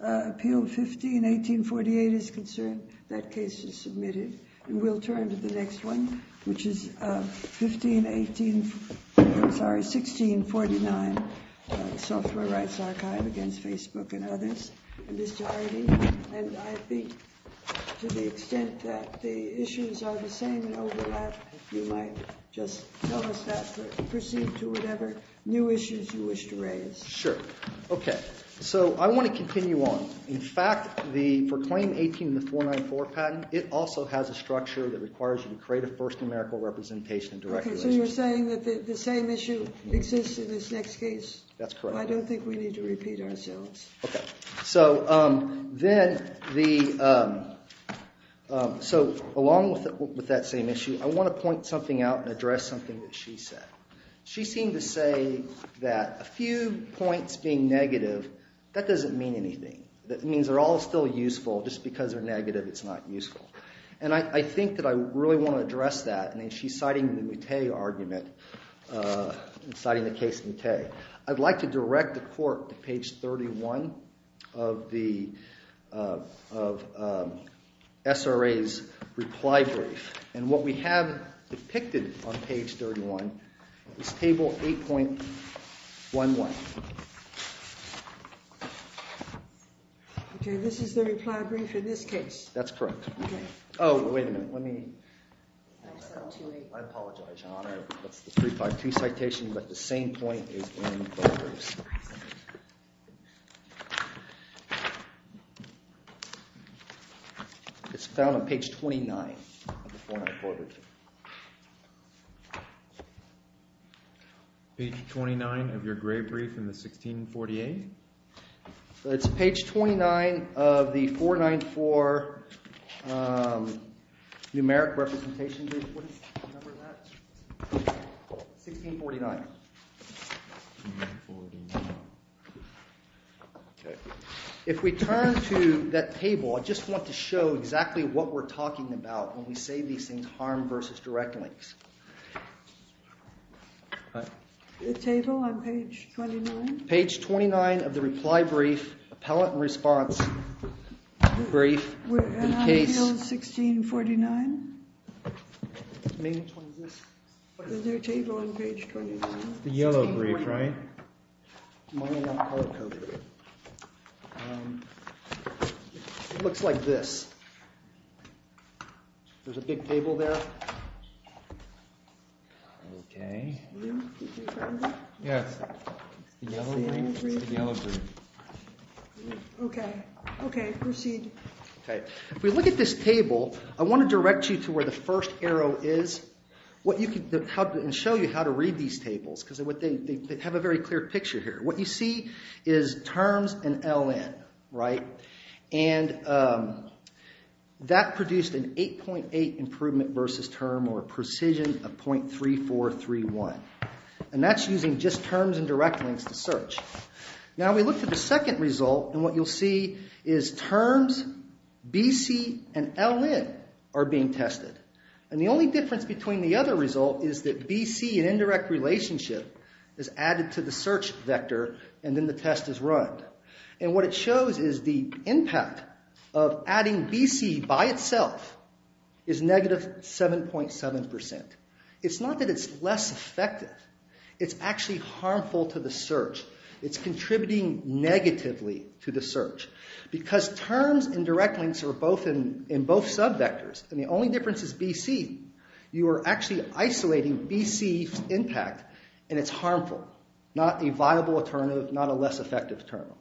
Appeal 15-1848 is concerned. That case is submitted. And we'll turn to the next one, which is 15-18, I'm sorry, 16-49, Software Rights Archive v. Facebook and others. Mr. Harady, and I think to the extent that the issues are the same and overlap, you might just tell us that and proceed to whatever new issues you wish to raise. Sure. Okay. So I want to continue on. In fact, for Claim 18 and the 494 patent, it also has a structure that requires you to create a first numerical representation and direct relation. Okay. So you're saying that the same issue exists in this next case? That's correct. I don't think we need to repeat ourselves. Okay. So then the – so along with that same issue, I want to point something out and address something that she said. She seemed to say that a few points being negative, that doesn't mean anything. That means they're all still useful. Just because they're negative, it's not useful. And I think that I really want to address that, and she's citing the Moutet argument, citing the case Moutet. I'd like to direct the court to page 31 of the SRA's reply brief. And what we have depicted on page 31 is table 8.11. Okay. This is the reply brief in this case? That's correct. Oh, wait a minute. Let me – I apologize, Your Honor. That's the 352 citation, but the same point is in both briefs. It's found on page 29 of the 494 brief. Page 29 of your gray brief in the 1648? It's page 29 of the 494 numeric representation brief. What is the number of that? 1649. Okay. If we turn to that table, I just want to show exactly what we're talking about when we say these things harm versus direct links. The table on page 29? Page 29 of the reply brief, appellate response brief. And I feel 1649? Is there a table on page 29? It's the yellow brief, right? It looks like this. There's a big table there. Okay. Yes. It's the yellow brief. Okay. Okay. Proceed. Okay. If we look at this table, I want to direct you to where the first arrow is and show you how to read these tables because they have a very clear picture here. What you see is terms and LN, right? And that produced an 8.8 improvement versus term or precision of .3431. And that's using just terms and direct links to search. Now we look to the second result, and what you'll see is terms, BC, and LN are being tested. And the only difference between the other result is that BC and indirect relationship is added to the search vector and then the test is run. And what it shows is the impact of adding BC by itself is negative 7.7%. It's not that it's less effective. It's actually harmful to the search. It's contributing negatively to the search. Because terms and direct links are in both subvectors, and the only difference is BC, you are actually isolating BC's impact, and it's harmful. Not a viable alternative, not a less effective alternative.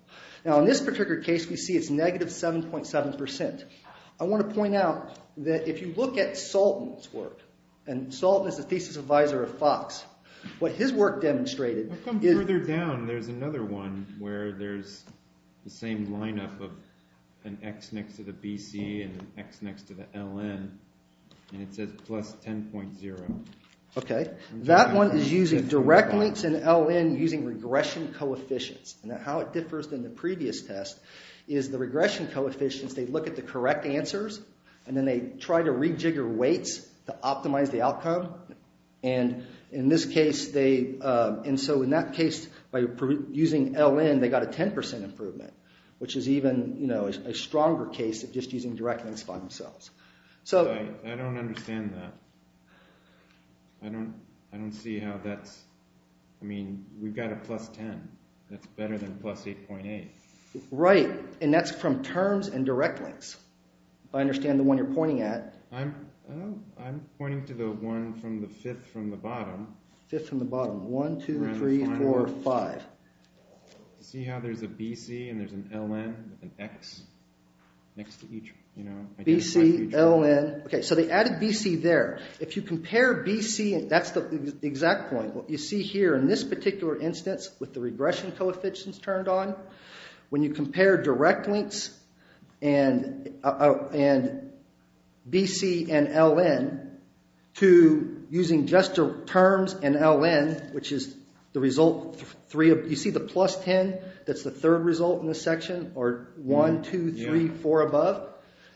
Now in this particular case, we see it's negative 7.7%. I want to point out that if you look at Salton's work, and Salton is the thesis advisor of Fox, what his work demonstrated is... ...an X next to the BC and an X next to the LN, and it says plus 10.0. Okay. That one is using direct links and LN using regression coefficients. Now how it differs than the previous test is the regression coefficients, they look at the correct answers, and then they try to rejigger weights to optimize the outcome. And in this case, they... And so in that case, by using LN, they got a 10% improvement, which is even a stronger case of just using direct links by themselves. I don't understand that. I don't see how that's... I mean, we've got a plus 10. That's better than plus 8.8. Right. And that's from terms and direct links. I understand the one you're pointing at. I'm pointing to the one from the fifth from the bottom. Fifth from the bottom. One, two, three, four, five. See how there's a BC and there's an LN with an X next to each... BC, LN. Okay, so they added BC there. If you compare BC... That's the exact point. What you see here in this particular instance with the regression coefficients turned on, when you compare direct links and BC and LN to using just terms and LN, which is the result... You see the plus 10? That's the third result in this section, or one, two, three, four above?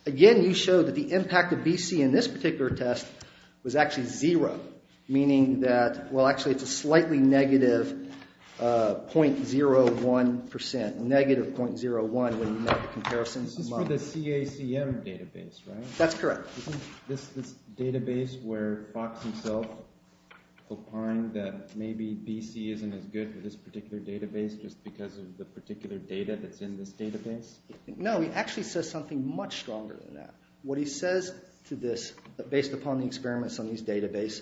Again, you show that the impact of BC in this particular test was actually zero, meaning that... Well, actually, it's a slightly negative 0.01%. Negative 0.01 when you make a comparison. This is for the CACM database, right? That's correct. Isn't this this database where Fox himself opined that maybe BC isn't as good for this particular database just because of the particular data that's in this database? No, he actually says something much stronger than that. What he says to this, based upon the experiments on this database...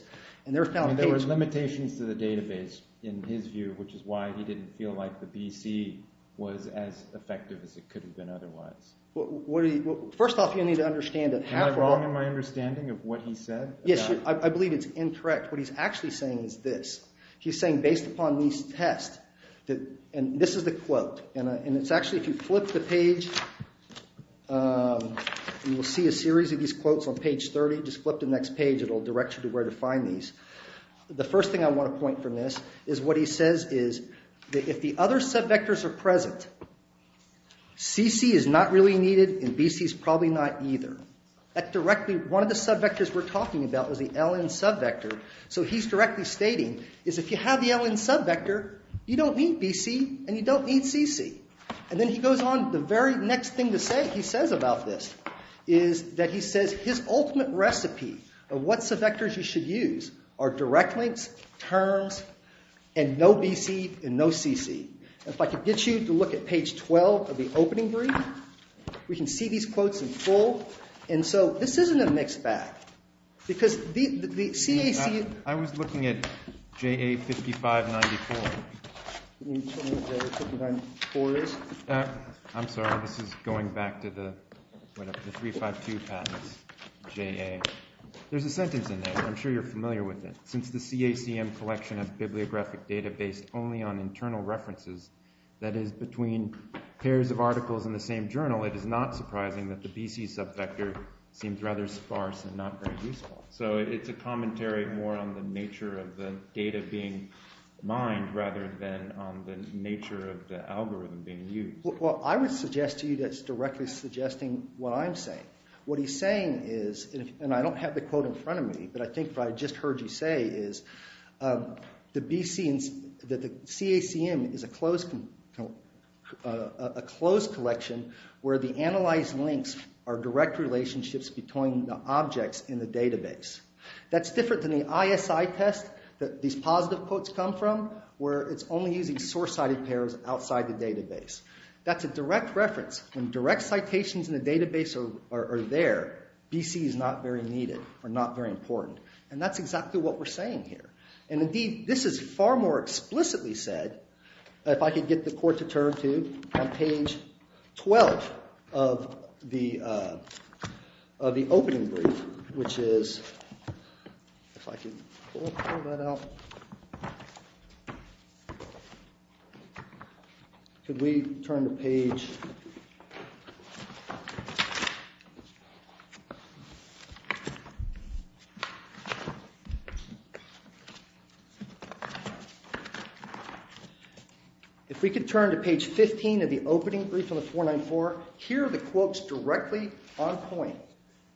There were limitations to the database in his view, which is why he didn't feel like the BC was as effective as it could have been otherwise. First off, you need to understand that... Am I wrong in my understanding of what he said? Yes, I believe it's incorrect. What he's actually saying is this. He's saying, based upon these tests... And this is the quote. And it's actually... If you flip the page, you will see a series of these quotes on page 30. Just flip to the next page. It will direct you to where to find these. The first thing I want to point from this is what he says is that if the other subvectors are present, CC is not really needed, and BC is probably not either. That directly... One of the subvectors we're talking about was the LN subvector. He's directly stating, if you have the LN subvector, you don't need BC and you don't need CC. And then he goes on. The very next thing he says about this is that his ultimate recipe of what subvectors you should use are direct links, terms, and no BC and no CC. If I could get you to look at page 12 of the opening brief, we can see these quotes in full. This isn't a mixed bag. Because the CAC... I was looking at JA 5594. I'm sorry. This is going back to the 352 patents, JA. There's a sentence in there. I'm sure you're familiar with it. Since the CACM collection of bibliographic data based only on internal references, that is between pairs of articles in the same journal, it is not surprising that the BC subvector seems rather sparse and not very useful. So it's a commentary more on the nature of the data being mined rather than on the nature of the algorithm being used. Well, I would suggest to you that's directly suggesting what I'm saying. What he's saying is, and I don't have the quote in front of me, but I think what I just heard you say is that the CACM is a closed collection where the analyzed links are direct relationships between the objects in the database. That's different than the ISI test that these positive quotes come from where it's only using source-sided pairs outside the database. That's a direct reference. When direct citations in the database are there, BC is not very needed or not very important. And that's exactly what we're saying here. And indeed, this is far more explicitly said, if I could get the court to turn to on page 12 of the opening brief, which is, if I can pull that out. If we could turn to page 15 of the opening brief on the 494, here are the quotes directly on point.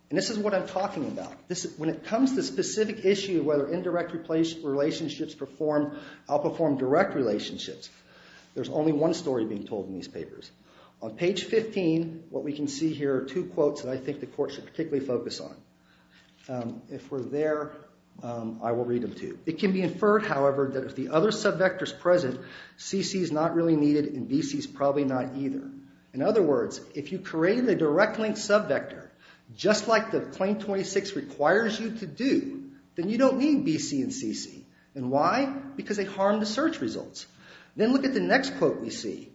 And this is what I'm talking about. When it comes to the specific issue of whether indirect relationships outperform direct relationships, there's only one story being told in these papers. On page 15, what we can see here are two quotes that I think the court should particularly focus on. If we're there, I will read them too. It can be inferred, however, that if the other subvector is present, CC is not really needed and BC is probably not either. In other words, if you create a direct link subvector, just like the Claim 26 requires you to do, then you don't need BC and CC. And why? Because they harm the search results. Then look at the next quote we see.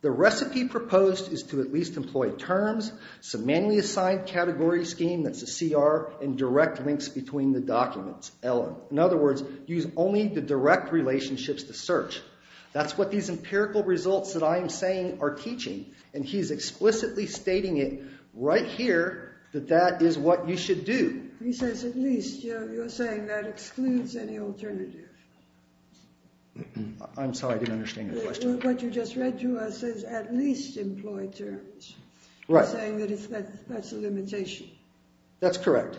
The recipe proposed is to at least employ terms, some manually assigned category scheme, that's a CR, and direct links between the documents, LM. In other words, use only the direct relationships to search. That's what these empirical results that I'm saying are teaching. And he's explicitly stating it right here that that is what you should do. He says at least. You're saying that excludes any alternative. I'm sorry, I didn't understand your question. What you just read to us is at least employ terms. Right. You're saying that that's a limitation. That's correct.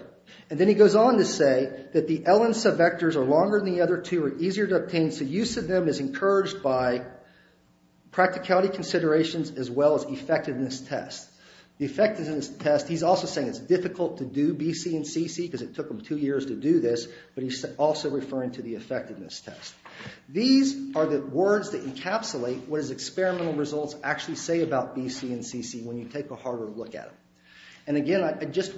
And then he goes on to say that the LN subvectors are longer than the other two, are easier to obtain, so use of them is encouraged by practicality considerations as well as effectiveness tests. The effectiveness test, he's also saying it's difficult to do BC and CC because it took him two years to do this, but he's also referring to the effectiveness test. These are the words that encapsulate what his experimental results actually say about BC and CC when you take a harder look at them. And again, I just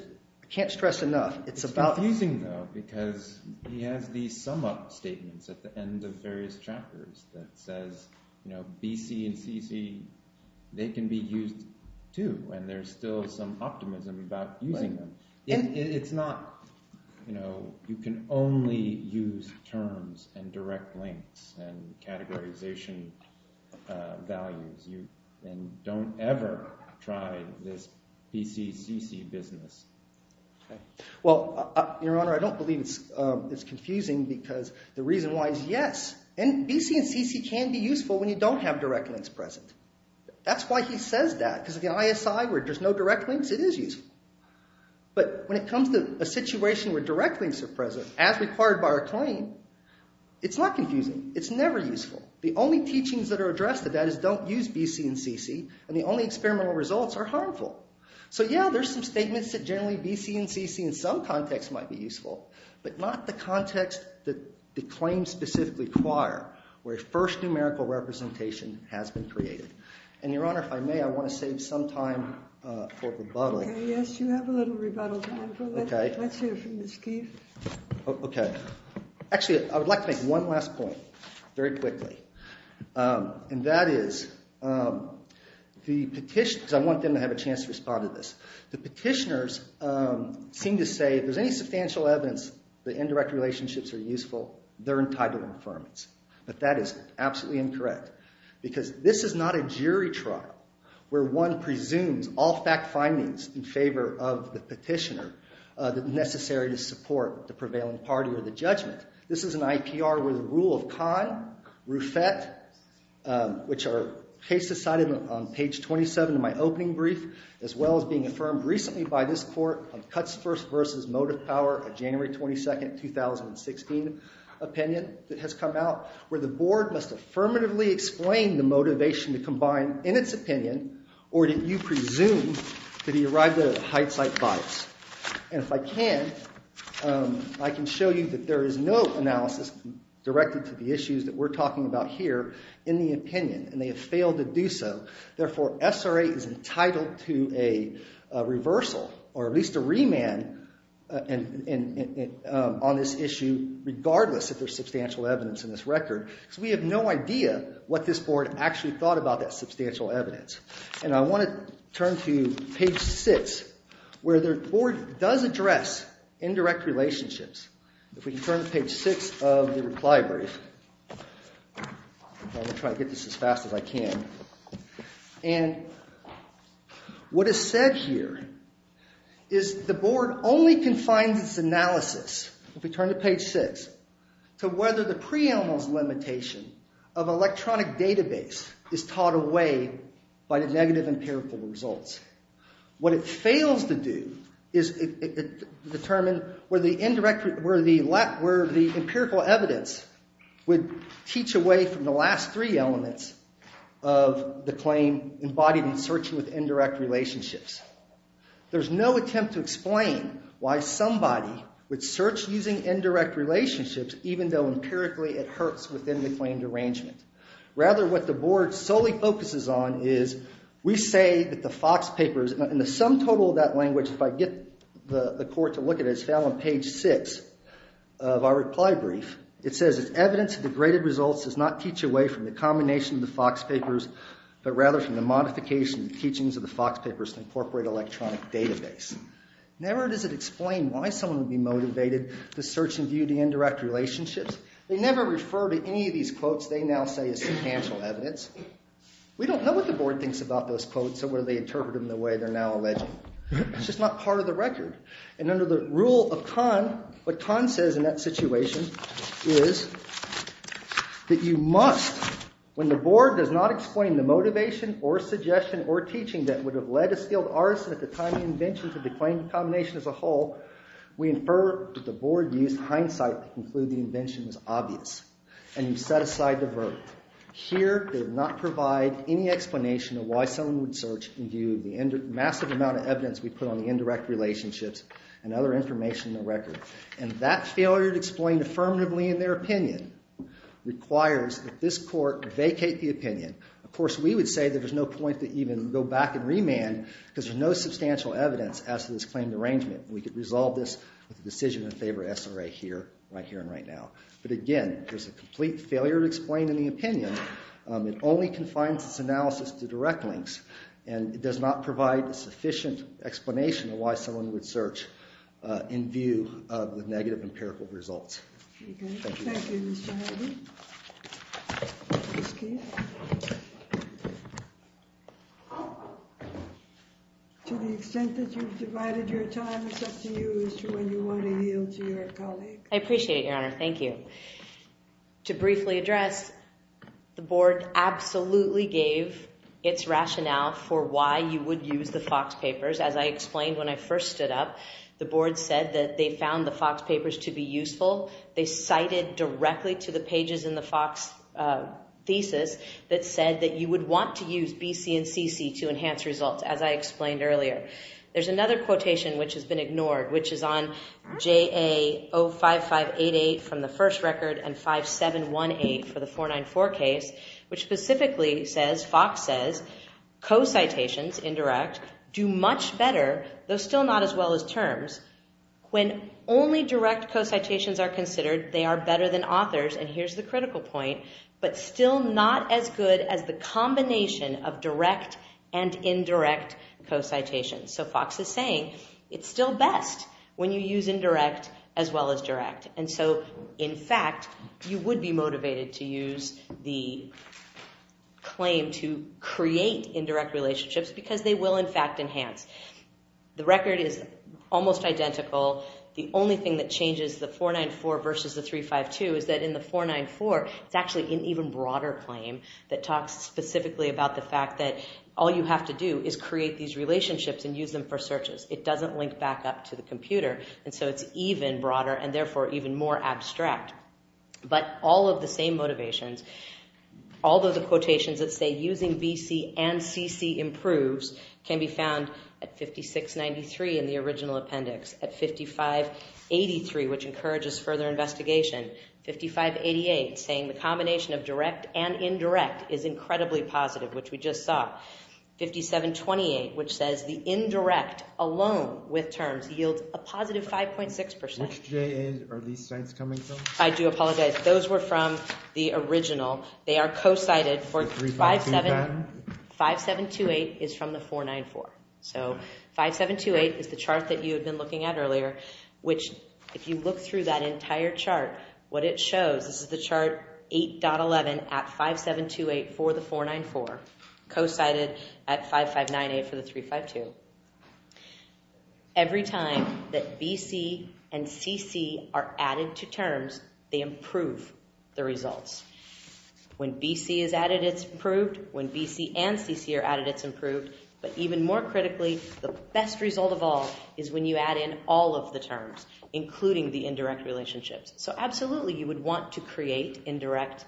can't stress enough, it's about… It's confusing, though, because he has these sum-up statements at the end of various chapters that says BC and CC, they can be used too, and there's still some optimism about using them. Right. And don't ever try this BC-CC business. Well, Your Honor, I don't believe it's confusing because the reason why is yes, and BC and CC can be useful when you don't have direct links present. That's why he says that, because of the ISI where there's no direct links, it is useful. But when it comes to a situation where direct links are present, as required by our claim, it's not confusing. It's never useful. The only teachings that are addressed to that is don't use BC and CC, and the only experimental results are harmful. So yeah, there's some statements that generally BC and CC in some contexts might be useful, but not the context that the claims specifically require, where first numerical representation has been created. And Your Honor, if I may, I want to save some time for rebuttal. Yes, you have a little rebuttal time for that. Let's hear from Ms. Keefe. Okay. Actually, I would like to make one last point very quickly. And that is the petitioners—I want them to have a chance to respond to this. The petitioners seem to say if there's any substantial evidence that indirect relationships are useful, they're entitled to affirmance. But that is absolutely incorrect, because this is not a jury trial where one presumes all fact findings in favor of the petitioner that are necessary to support the prevailing party or the judgment. This is an IPR with a rule of kind, RUFET, which are cases cited on page 27 of my opening brief, as well as being affirmed recently by this court on Cuts First vs. Motive Power, a January 22, 2016 opinion that has come out, where the board must affirmatively explain the motivation to combine in its opinion or that you presume to the arrival of hindsight bias. And if I can, I can show you that there is no analysis directed to the issues that we're talking about here in the opinion, and they have failed to do so. Therefore, SRA is entitled to a reversal or at least a remand on this issue, regardless if there's substantial evidence in this record, because we have no idea what this board actually thought about that substantial evidence. And I want to turn to page 6, where the board does address indirect relationships. If we can turn to page 6 of the reply brief. I'm going to try to get this as fast as I can. And what is said here is the board only confines its analysis, if we turn to page 6, to whether the preamble's limitation of electronic database is taught away by the negative empirical results. What it fails to do is determine where the empirical evidence would teach away from the last three elements of the claim embodied in searching with indirect relationships. There's no attempt to explain why somebody would search using indirect relationships, even though empirically it hurts within the claimed arrangement. Rather, what the board solely focuses on is, we say that the Fox Papers, and the sum total of that language, if I get the court to look at it, is found on page 6 of our reply brief. It says, it's evidence that the graded results does not teach away from the combination of the Fox Papers, but rather from the modification and teachings of the Fox Papers to incorporate electronic database. Never does it explain why someone would be motivated to search and view the indirect relationships. They never refer to any of these quotes they now say as substantial evidence. We don't know what the board thinks about those quotes or whether they interpret them the way they're now alleging. It's just not part of the record. And under the rule of Kahn, what Kahn says in that situation is that you must, when the board does not explain the motivation or suggestion or teaching that would have led a skilled artist at the time of invention to the claim combination as a whole, we infer that the board used hindsight to conclude the invention was obvious. And you set aside the verdict. Here, they did not provide any explanation of why someone would search and view the massive amount of evidence we put on the indirect relationships and other information in the record. And that failure to explain affirmatively in their opinion requires that this court vacate the opinion. Of course, we would say that there's no point to even go back and remand because there's no substantial evidence as to this claimed arrangement. We could resolve this with a decision in favor of SRA here, right here and right now. But again, there's a complete failure to explain in the opinion. It only confines its analysis to direct links. And it does not provide a sufficient explanation of why someone would search in view of the negative empirical results. Thank you, Mr. Harvey. Ms. Keefe. To the extent that you've divided your time, it's up to you as to when you want to yield to your colleague. I appreciate it, Your Honor. Thank you. To briefly address, the board absolutely gave its rationale for why you would use the Fox Papers. As I explained when I first stood up, the board said that they found the Fox Papers to be useful. They cited directly to the pages in the Fox thesis that said that you would want to use BC and CC to enhance results, as I explained earlier. There's another quotation which has been ignored, which is on JA 05588 from the first record and 5718 for the 494 case, which specifically says, Fox says, co-citations, indirect, do much better, though still not as well as terms, when only direct co-citations are considered, they are better than authors, and here's the critical point, but still not as good as the combination of direct and indirect co-citations. So Fox is saying, it's still best when you use indirect as well as direct. And so, in fact, you would be motivated to use the claim to create indirect relationships because they will, in fact, enhance. The record is almost identical. The only thing that changes the 494 versus the 352 is that in the 494, it's actually an even broader claim that talks specifically about the fact that all you have to do is create these relationships and use them for searches. It doesn't link back up to the computer, and so it's even broader and therefore even more abstract. But all of the same motivations, all of the quotations that say using BC and CC improves can be found at 5693 in the original appendix, at 5583, which encourages further investigation, 5588, saying the combination of direct and indirect is incredibly positive, which we just saw, 5728, which says the indirect alone with terms yields a positive 5.6%. Which JAs are these sites coming from? I do apologize. Those were from the original. They are co-cited for 5728 is from the 494. So 5728 is the chart that you had been looking at earlier, which if you look through that entire chart, what it shows, this is the chart 8.11 at 5728 for the 494, co-cited at 5598 for the 352. Every time that BC and CC are added to terms, they improve the results. When BC is added, it's improved. When BC and CC are added, it's improved. But even more critically, the best result of all is when you add in all of the terms, including the indirect relationships. So absolutely, you would want to create indirect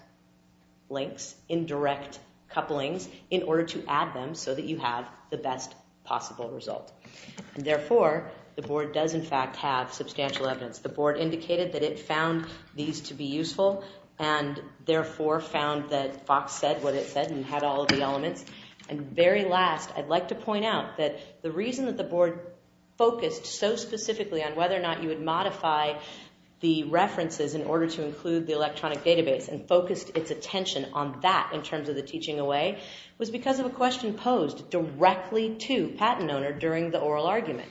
links, indirect couplings, in order to add them so that you have the best possible result. And therefore, the board does in fact have substantial evidence. The board indicated that it found these to be useful and therefore found that Fox said what it said and had all of the elements. And very last, I'd like to point out that the reason that the board focused so specifically on whether or not you would modify the references in order to include the electronic database and focused its attention on that in terms of the teaching away was because of a question posed directly to PatentOwner during the oral argument.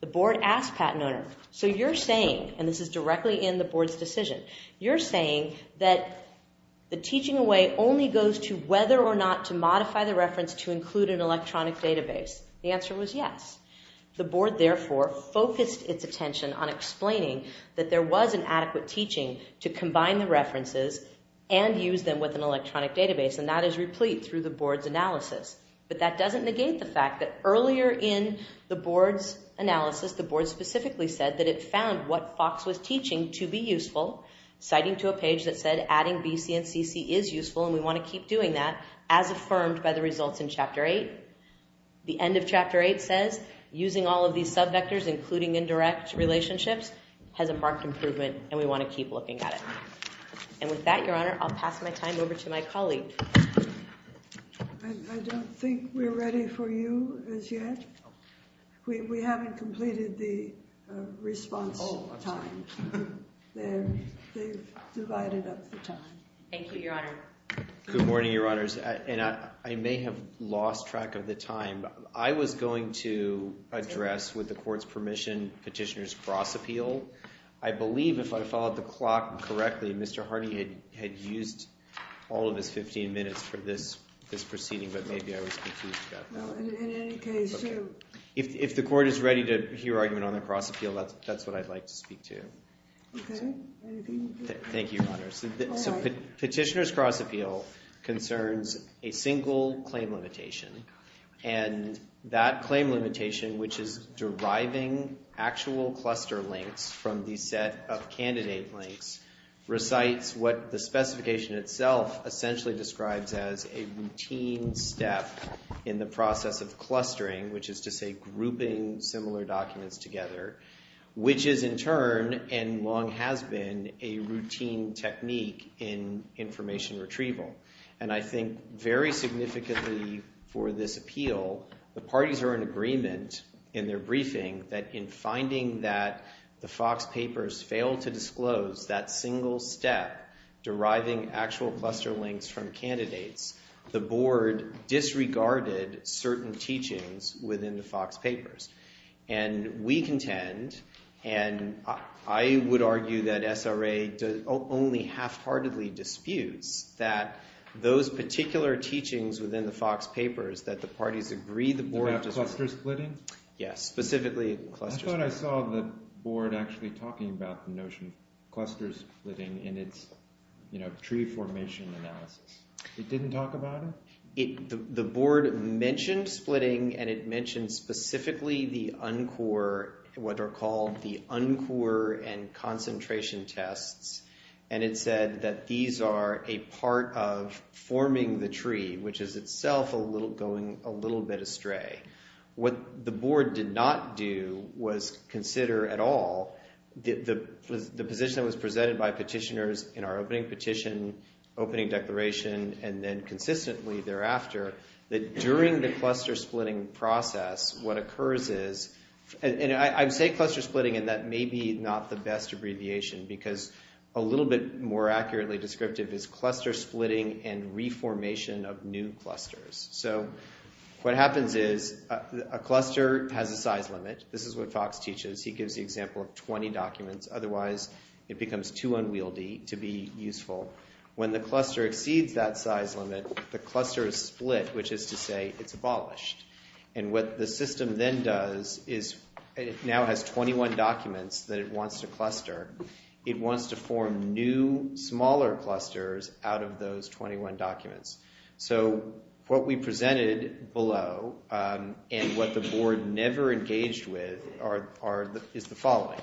The board asked PatentOwner, so you're saying, and this is directly in the board's decision, you're saying that the teaching away only goes to whether or not to modify the reference to include an electronic database. The answer was yes. The board therefore focused its attention on explaining that there was an adequate teaching to combine the references and use them with an electronic database. And that is replete through the board's analysis. But that doesn't negate the fact that earlier in the board's analysis, the board specifically said that it found what Fox was teaching to be useful, citing to a page that said adding BC and CC is useful and we want to keep doing that as affirmed by the results in Chapter 8. The end of Chapter 8 says using all of these subvectors, including indirect relationships, has a marked improvement and we want to keep looking at it. And with that, Your Honor, I'll pass my time over to my colleague. I don't think we're ready for you as yet. We haven't completed the response time. They've divided up the time. Thank you, Your Honor. Good morning, Your Honors. And I may have lost track of the time. I was going to address, with the court's permission, petitioner's cross appeal. I believe, if I followed the clock correctly, Mr. Hardy had used all of his 15 minutes for this proceeding, but maybe I was confused about that. Well, in any case, Jim. If the court is ready to hear argument on the cross appeal, that's what I'd like to speak to. Okay. Thank you, Your Honor. So petitioner's cross appeal concerns a single claim limitation. And that claim limitation, which is deriving actual cluster links from the set of candidate links, recites what the specification itself essentially describes as a routine step in the process of clustering, which is to say grouping similar documents together, which is, in turn, and long has been, a routine technique in information retrieval. And I think very significantly for this appeal, the parties are in agreement in their briefing that in finding that the Fox Papers failed to disclose that single step deriving actual cluster links from candidates, the board disregarded certain teachings within the Fox Papers. And we contend, and I would argue that SRA only half-heartedly disputes, that those particular teachings within the Fox Papers that the parties agree the board disregarded. About cluster splitting? Yes, specifically cluster splitting. I thought I saw the board actually talking about the notion of cluster splitting in its tree formation analysis. It didn't talk about it? The board mentioned splitting, and it mentioned specifically the uncore, what are called the uncore and concentration tests. And it said that these are a part of forming the tree, which is itself going a little bit astray. What the board did not do was consider at all the position that was presented by petitioners in our opening petition, opening declaration, and then consistently thereafter, that during the cluster splitting process, what occurs is, and I say cluster splitting, and that may be not the best abbreviation, because a little bit more accurately descriptive is cluster splitting and reformation of new clusters. So what happens is a cluster has a size limit. This is what Fox teaches. He gives the example of 20 documents. Otherwise, it becomes too unwieldy to be useful. When the cluster exceeds that size limit, the cluster is split, which is to say it's abolished. And what the system then does is it now has 21 documents that it wants to cluster. It wants to form new, smaller clusters out of those 21 documents. So what we presented below and what the board never engaged with is the following,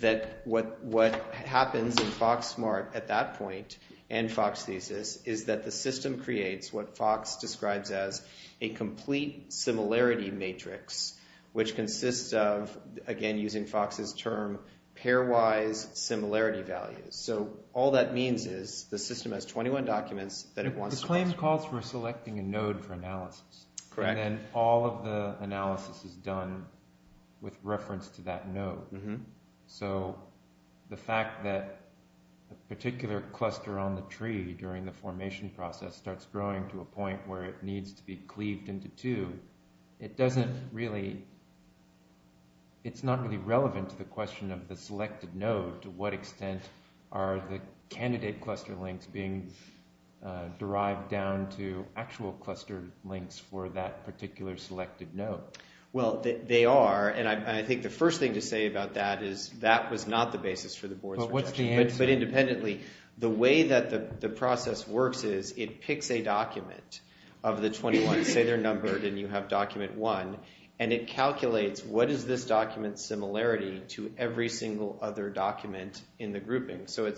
that what happens in FoxSMART at that point and Fox Thesis is that the system creates what Fox describes as a complete similarity matrix, which consists of, again, using Fox's term, pairwise similarity values. So all that means is the system has 21 documents that it wants to cluster. The claim calls for selecting a node for analysis. Correct. And then all of the analysis is done with reference to that node. So the fact that a particular cluster on the tree during the formation process starts growing to a point where it needs to be cleaved into two, it's not really relevant to the question of the selected node. To what extent are the candidate cluster links being derived down to actual cluster links for that particular selected node? Well, they are, and I think the first thing to say about that is that was not the basis for the board's rejection. But what's the answer? But independently, the way that the process works is it picks a document of the 21. Say they're numbered and you have document one, and it calculates what is this document's similarity to every single other document in the grouping. So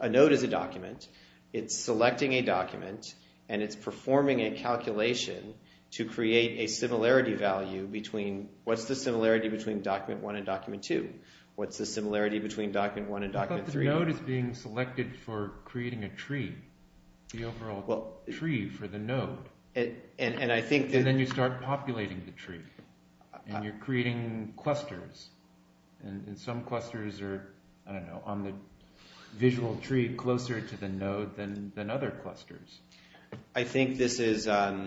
a node is a document. It's selecting a document, and it's performing a calculation to create a similarity value between what's the similarity between document one and document two? What's the similarity between document one and document three? But the node is being selected for creating a tree, the overall tree for the node. And then you start populating the tree, and you're creating clusters. And some clusters are, I don't know, on the visual tree closer to the node than other clusters. I think this is a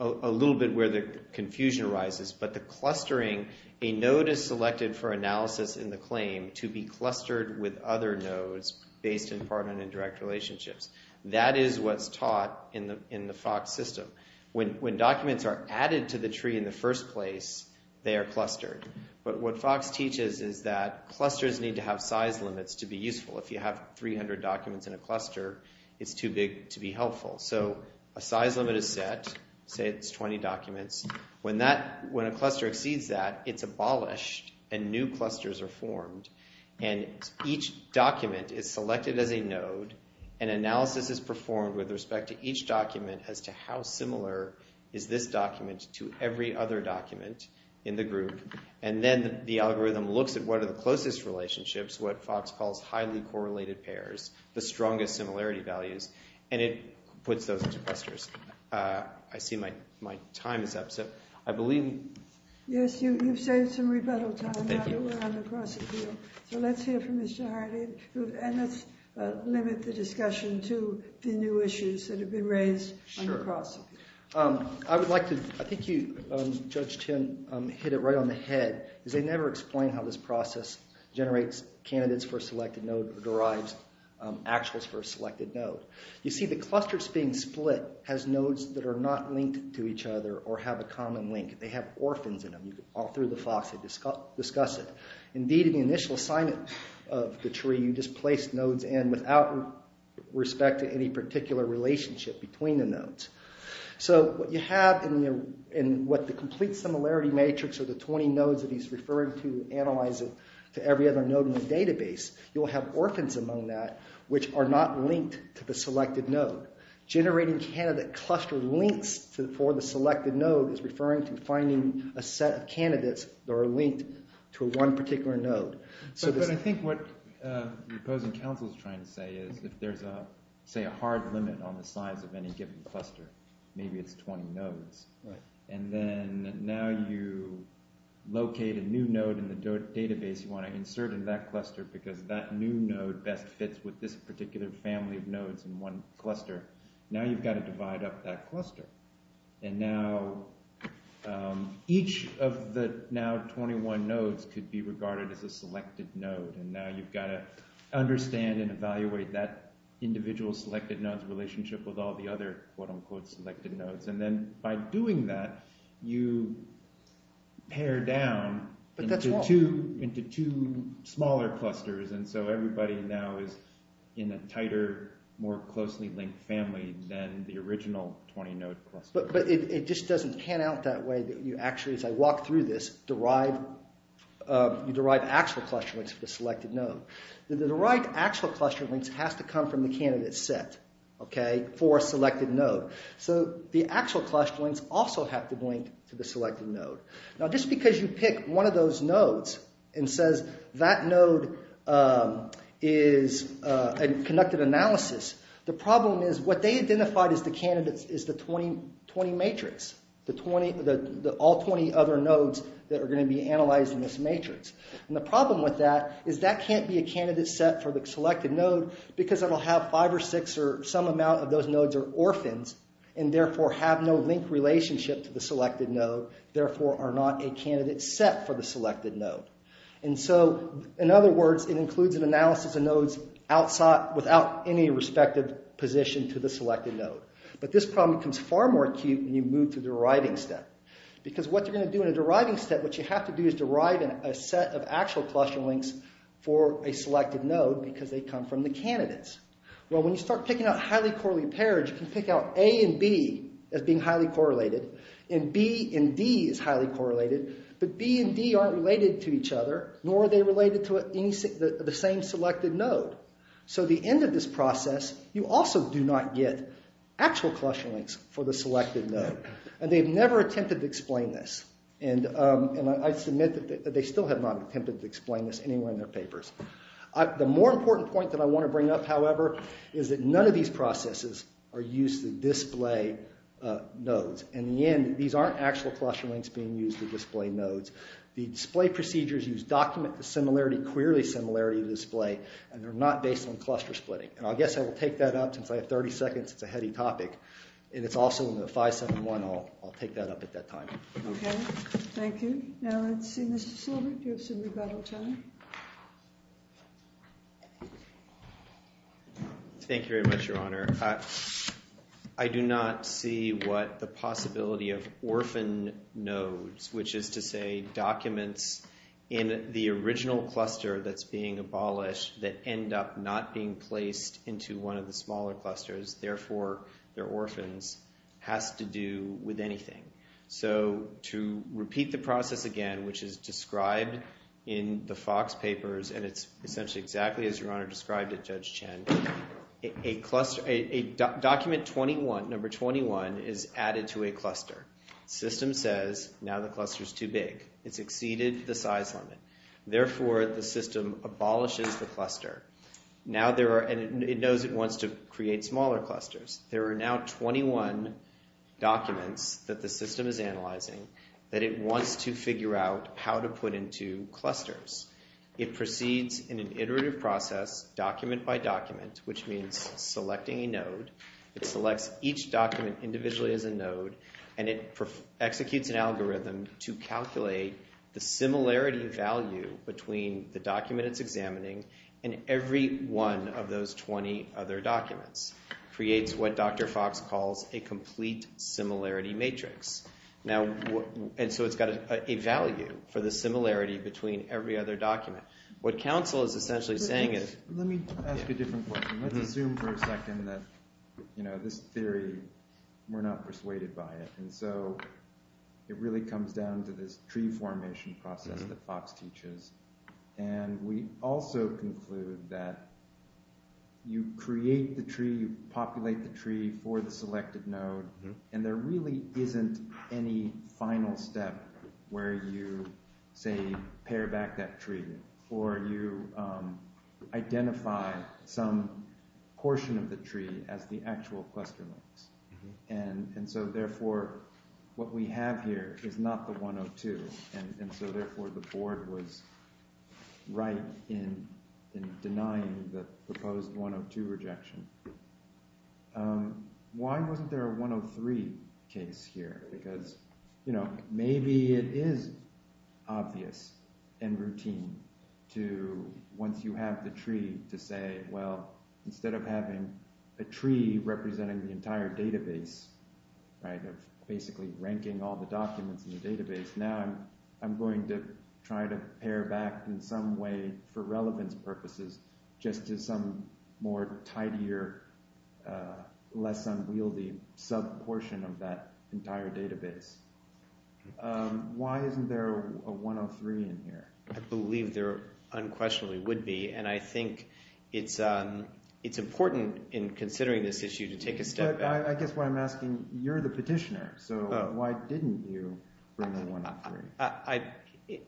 little bit where the confusion arises. But the clustering, a node is selected for analysis in the claim to be clustered with other nodes based in permanent and direct relationships. That is what's taught in the FOX system. When documents are added to the tree in the first place, they are clustered. But what FOX teaches is that clusters need to have size limits to be useful. If you have 300 documents in a cluster, it's too big to be helpful. So a size limit is set. Say it's 20 documents. When a cluster exceeds that, it's abolished, and new clusters are formed. And each document is selected as a node, and analysis is performed with respect to each document as to how similar is this document to every other document in the group. And then the algorithm looks at what are the closest relationships, what FOX calls highly correlated pairs, the strongest similarity values. And it puts those into clusters. I see my time is up. Yes, you've saved some rebuttal time now that we're on the cross-appeal. So let's hear from Mr. Hardy. And let's limit the discussion to the new issues that have been raised on the cross-appeal. I would like to—I think you, Judge Chin, hit it right on the head. They never explain how this process generates candidates for a selected node or derives actuals for a selected node. You see, the clusters being split has nodes that are not linked to each other or have a common link. They have orphans in them. All through the FOX, they discuss it. Indeed, in the initial assignment of the tree, you just placed nodes in without respect to any particular relationship between the nodes. So what you have in what the complete similarity matrix or the 20 nodes that he's referring to, analyze it to every other node in the database, you will have orphans among that which are not linked to the selected node. Generating candidate cluster links for the selected node is referring to finding a set of candidates that are linked to one particular node. But I think what the opposing counsel is trying to say is if there's, say, a hard limit on the size of any given cluster, maybe it's 20 nodes. And then now you locate a new node in the database you want to insert in that cluster because that new node best fits with this particular family of nodes in one cluster. Now you've got to divide up that cluster. And now each of the now 21 nodes could be regarded as a selected node. And now you've got to understand and evaluate that individual selected node's relationship with all the other, quote unquote, selected nodes. And then by doing that, you pare down into two smaller clusters. And so everybody now is in a tighter, more closely linked family than the original 20 node cluster. But it just doesn't pan out that way. Actually, as I walk through this, you derive actual cluster links for the selected node. The derived actual cluster links have to come from the candidate set for a selected node. So the actual cluster links also have to link to the selected node. Now just because you pick one of those nodes and says that node is a conducted analysis, the problem is what they identified as the candidates is the 20 matrix, all 20 other nodes that are going to be analyzed in this matrix. And the problem with that is that can't be a candidate set for the selected node because it'll have five or six or some amount of those nodes are orphans and therefore have no link relationship to the selected node, therefore are not a candidate set for the selected node. And so, in other words, it includes an analysis of nodes without any respective position to the selected node. But this problem becomes far more acute when you move to the deriving step. Because what you're going to do in a deriving step, what you have to do is derive a set of actual cluster links for a selected node because they come from the candidates. Well, when you start picking out highly correlated pairs, you can pick out A and B as being highly correlated. And B and D is highly correlated. But B and D aren't related to each other, nor are they related to the same selected node. So at the end of this process, you also do not get actual cluster links for the selected node. And they've never attempted to explain this. And I submit that they still have not attempted to explain this anywhere in their papers. The more important point that I want to bring up, however, is that none of these processes are used to display nodes. In the end, these aren't actual cluster links being used to display nodes. The display procedures use document-to-similarity, query-to-similarity to display, and they're not based on cluster splitting. And I guess I will take that up. Since I have 30 seconds, it's a heady topic. And it's also in the 571. I'll take that up at that time. Okay. Thank you. Okay. Now let's see. Mr. Silbert, do you have some rebuttal time? Thank you very much, Your Honor. I do not see what the possibility of orphan nodes, which is to say documents in the original cluster that's being abolished that end up not being placed into one of the smaller clusters, therefore they're orphans, has to do with anything. So to repeat the process again, which is described in the Fox papers, and it's essentially exactly as Your Honor described it, Judge Chen, a document 21, number 21, is added to a cluster. System says, now the cluster's too big. It's exceeded the size limit. Therefore, the system abolishes the cluster. Now there are—and it knows it wants to create smaller clusters. There are now 21 documents that the system is analyzing that it wants to figure out how to put into clusters. It proceeds in an iterative process, document by document, which means selecting a node. It selects each document individually as a node, and it executes an algorithm to calculate the similarity value between the document it's examining and every one of those 20 other documents. It creates what Dr. Fox calls a complete similarity matrix. And so it's got a value for the similarity between every other document. What counsel is essentially saying is— Let me ask a different question. Let's assume for a second that this theory, we're not persuaded by it. And so it really comes down to this tree formation process that Fox teaches. And we also conclude that you create the tree, you populate the tree for the selected node, and there really isn't any final step where you, say, pare back that tree or you identify some portion of the tree as the actual cluster links. And so therefore, what we have here is not the 102. And so therefore, the board was right in denying the proposed 102 rejection. Why wasn't there a 103 case here? Because maybe it is obvious and routine to, once you have the tree, to say, well, instead of having a tree representing the entire database, basically ranking all the documents in the database, now I'm going to try to pare back in some way for relevance purposes just to some more tidier, less unwieldy sub-portion of that entire database. Why isn't there a 103 in here? I believe there unquestionably would be, and I think it's important in considering this issue to take a step back. I guess what I'm asking, you're the petitioner, so why didn't you bring the 103?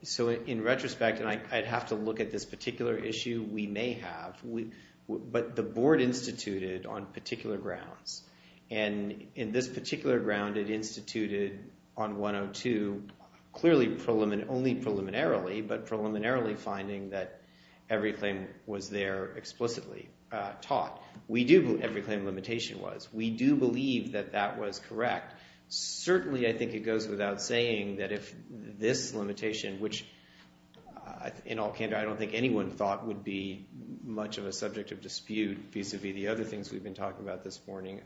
So in retrospect, and I'd have to look at this particular issue, we may have, but the board instituted on particular grounds. And in this particular ground, it instituted on 102 clearly only preliminarily, but preliminarily finding that every claim was there explicitly taught. We do believe every claim limitation was. We do believe that that was correct. Certainly I think it goes without saying that if this limitation, which in all candor I don't think anyone thought would be much of a subject of dispute vis-a-vis the other things we've been talking about this morning,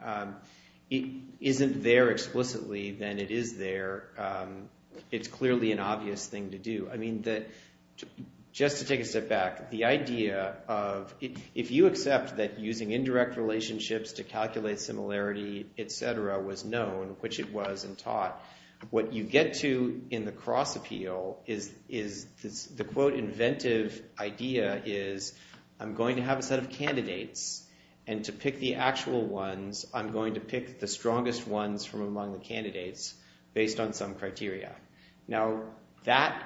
isn't there explicitly, then it is there. It's clearly an obvious thing to do. Just to take a step back, the idea of if you accept that using indirect relationships to calculate similarity, et cetera, was known, which it was and taught, what you get to in the cross appeal is the quote inventive idea is I'm going to have a set of candidates, and to pick the actual ones, I'm going to pick the strongest ones from among the candidates based on some criteria. Now, that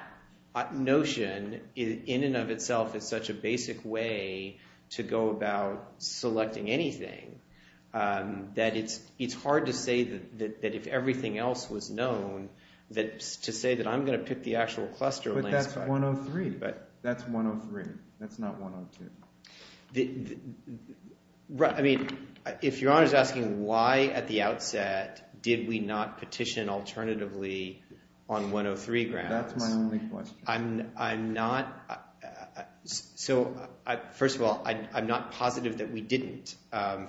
notion in and of itself is such a basic way to go about selecting anything that it's hard to say that if everything else was known to say that I'm going to pick the actual cluster. But that's 103. That's 103. That's not 102. I mean, if Your Honor is asking why at the outset did we not petition alternatively on 103 grounds. That's my only question. I'm not – so first of all, I'm not positive that we didn't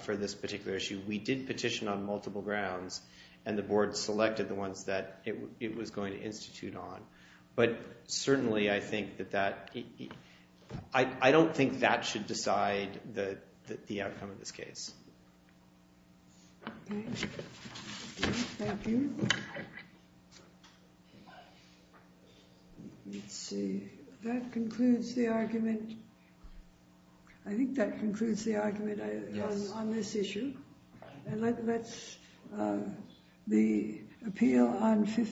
for this particular issue. We did petition on multiple grounds, and the board selected the ones that it was going to institute on. But certainly, I think that that – I don't think that should decide the outcome of this case. Thank you. Let's see. That concludes the argument. I think that concludes the argument on this issue. And let's – the appeal on 53.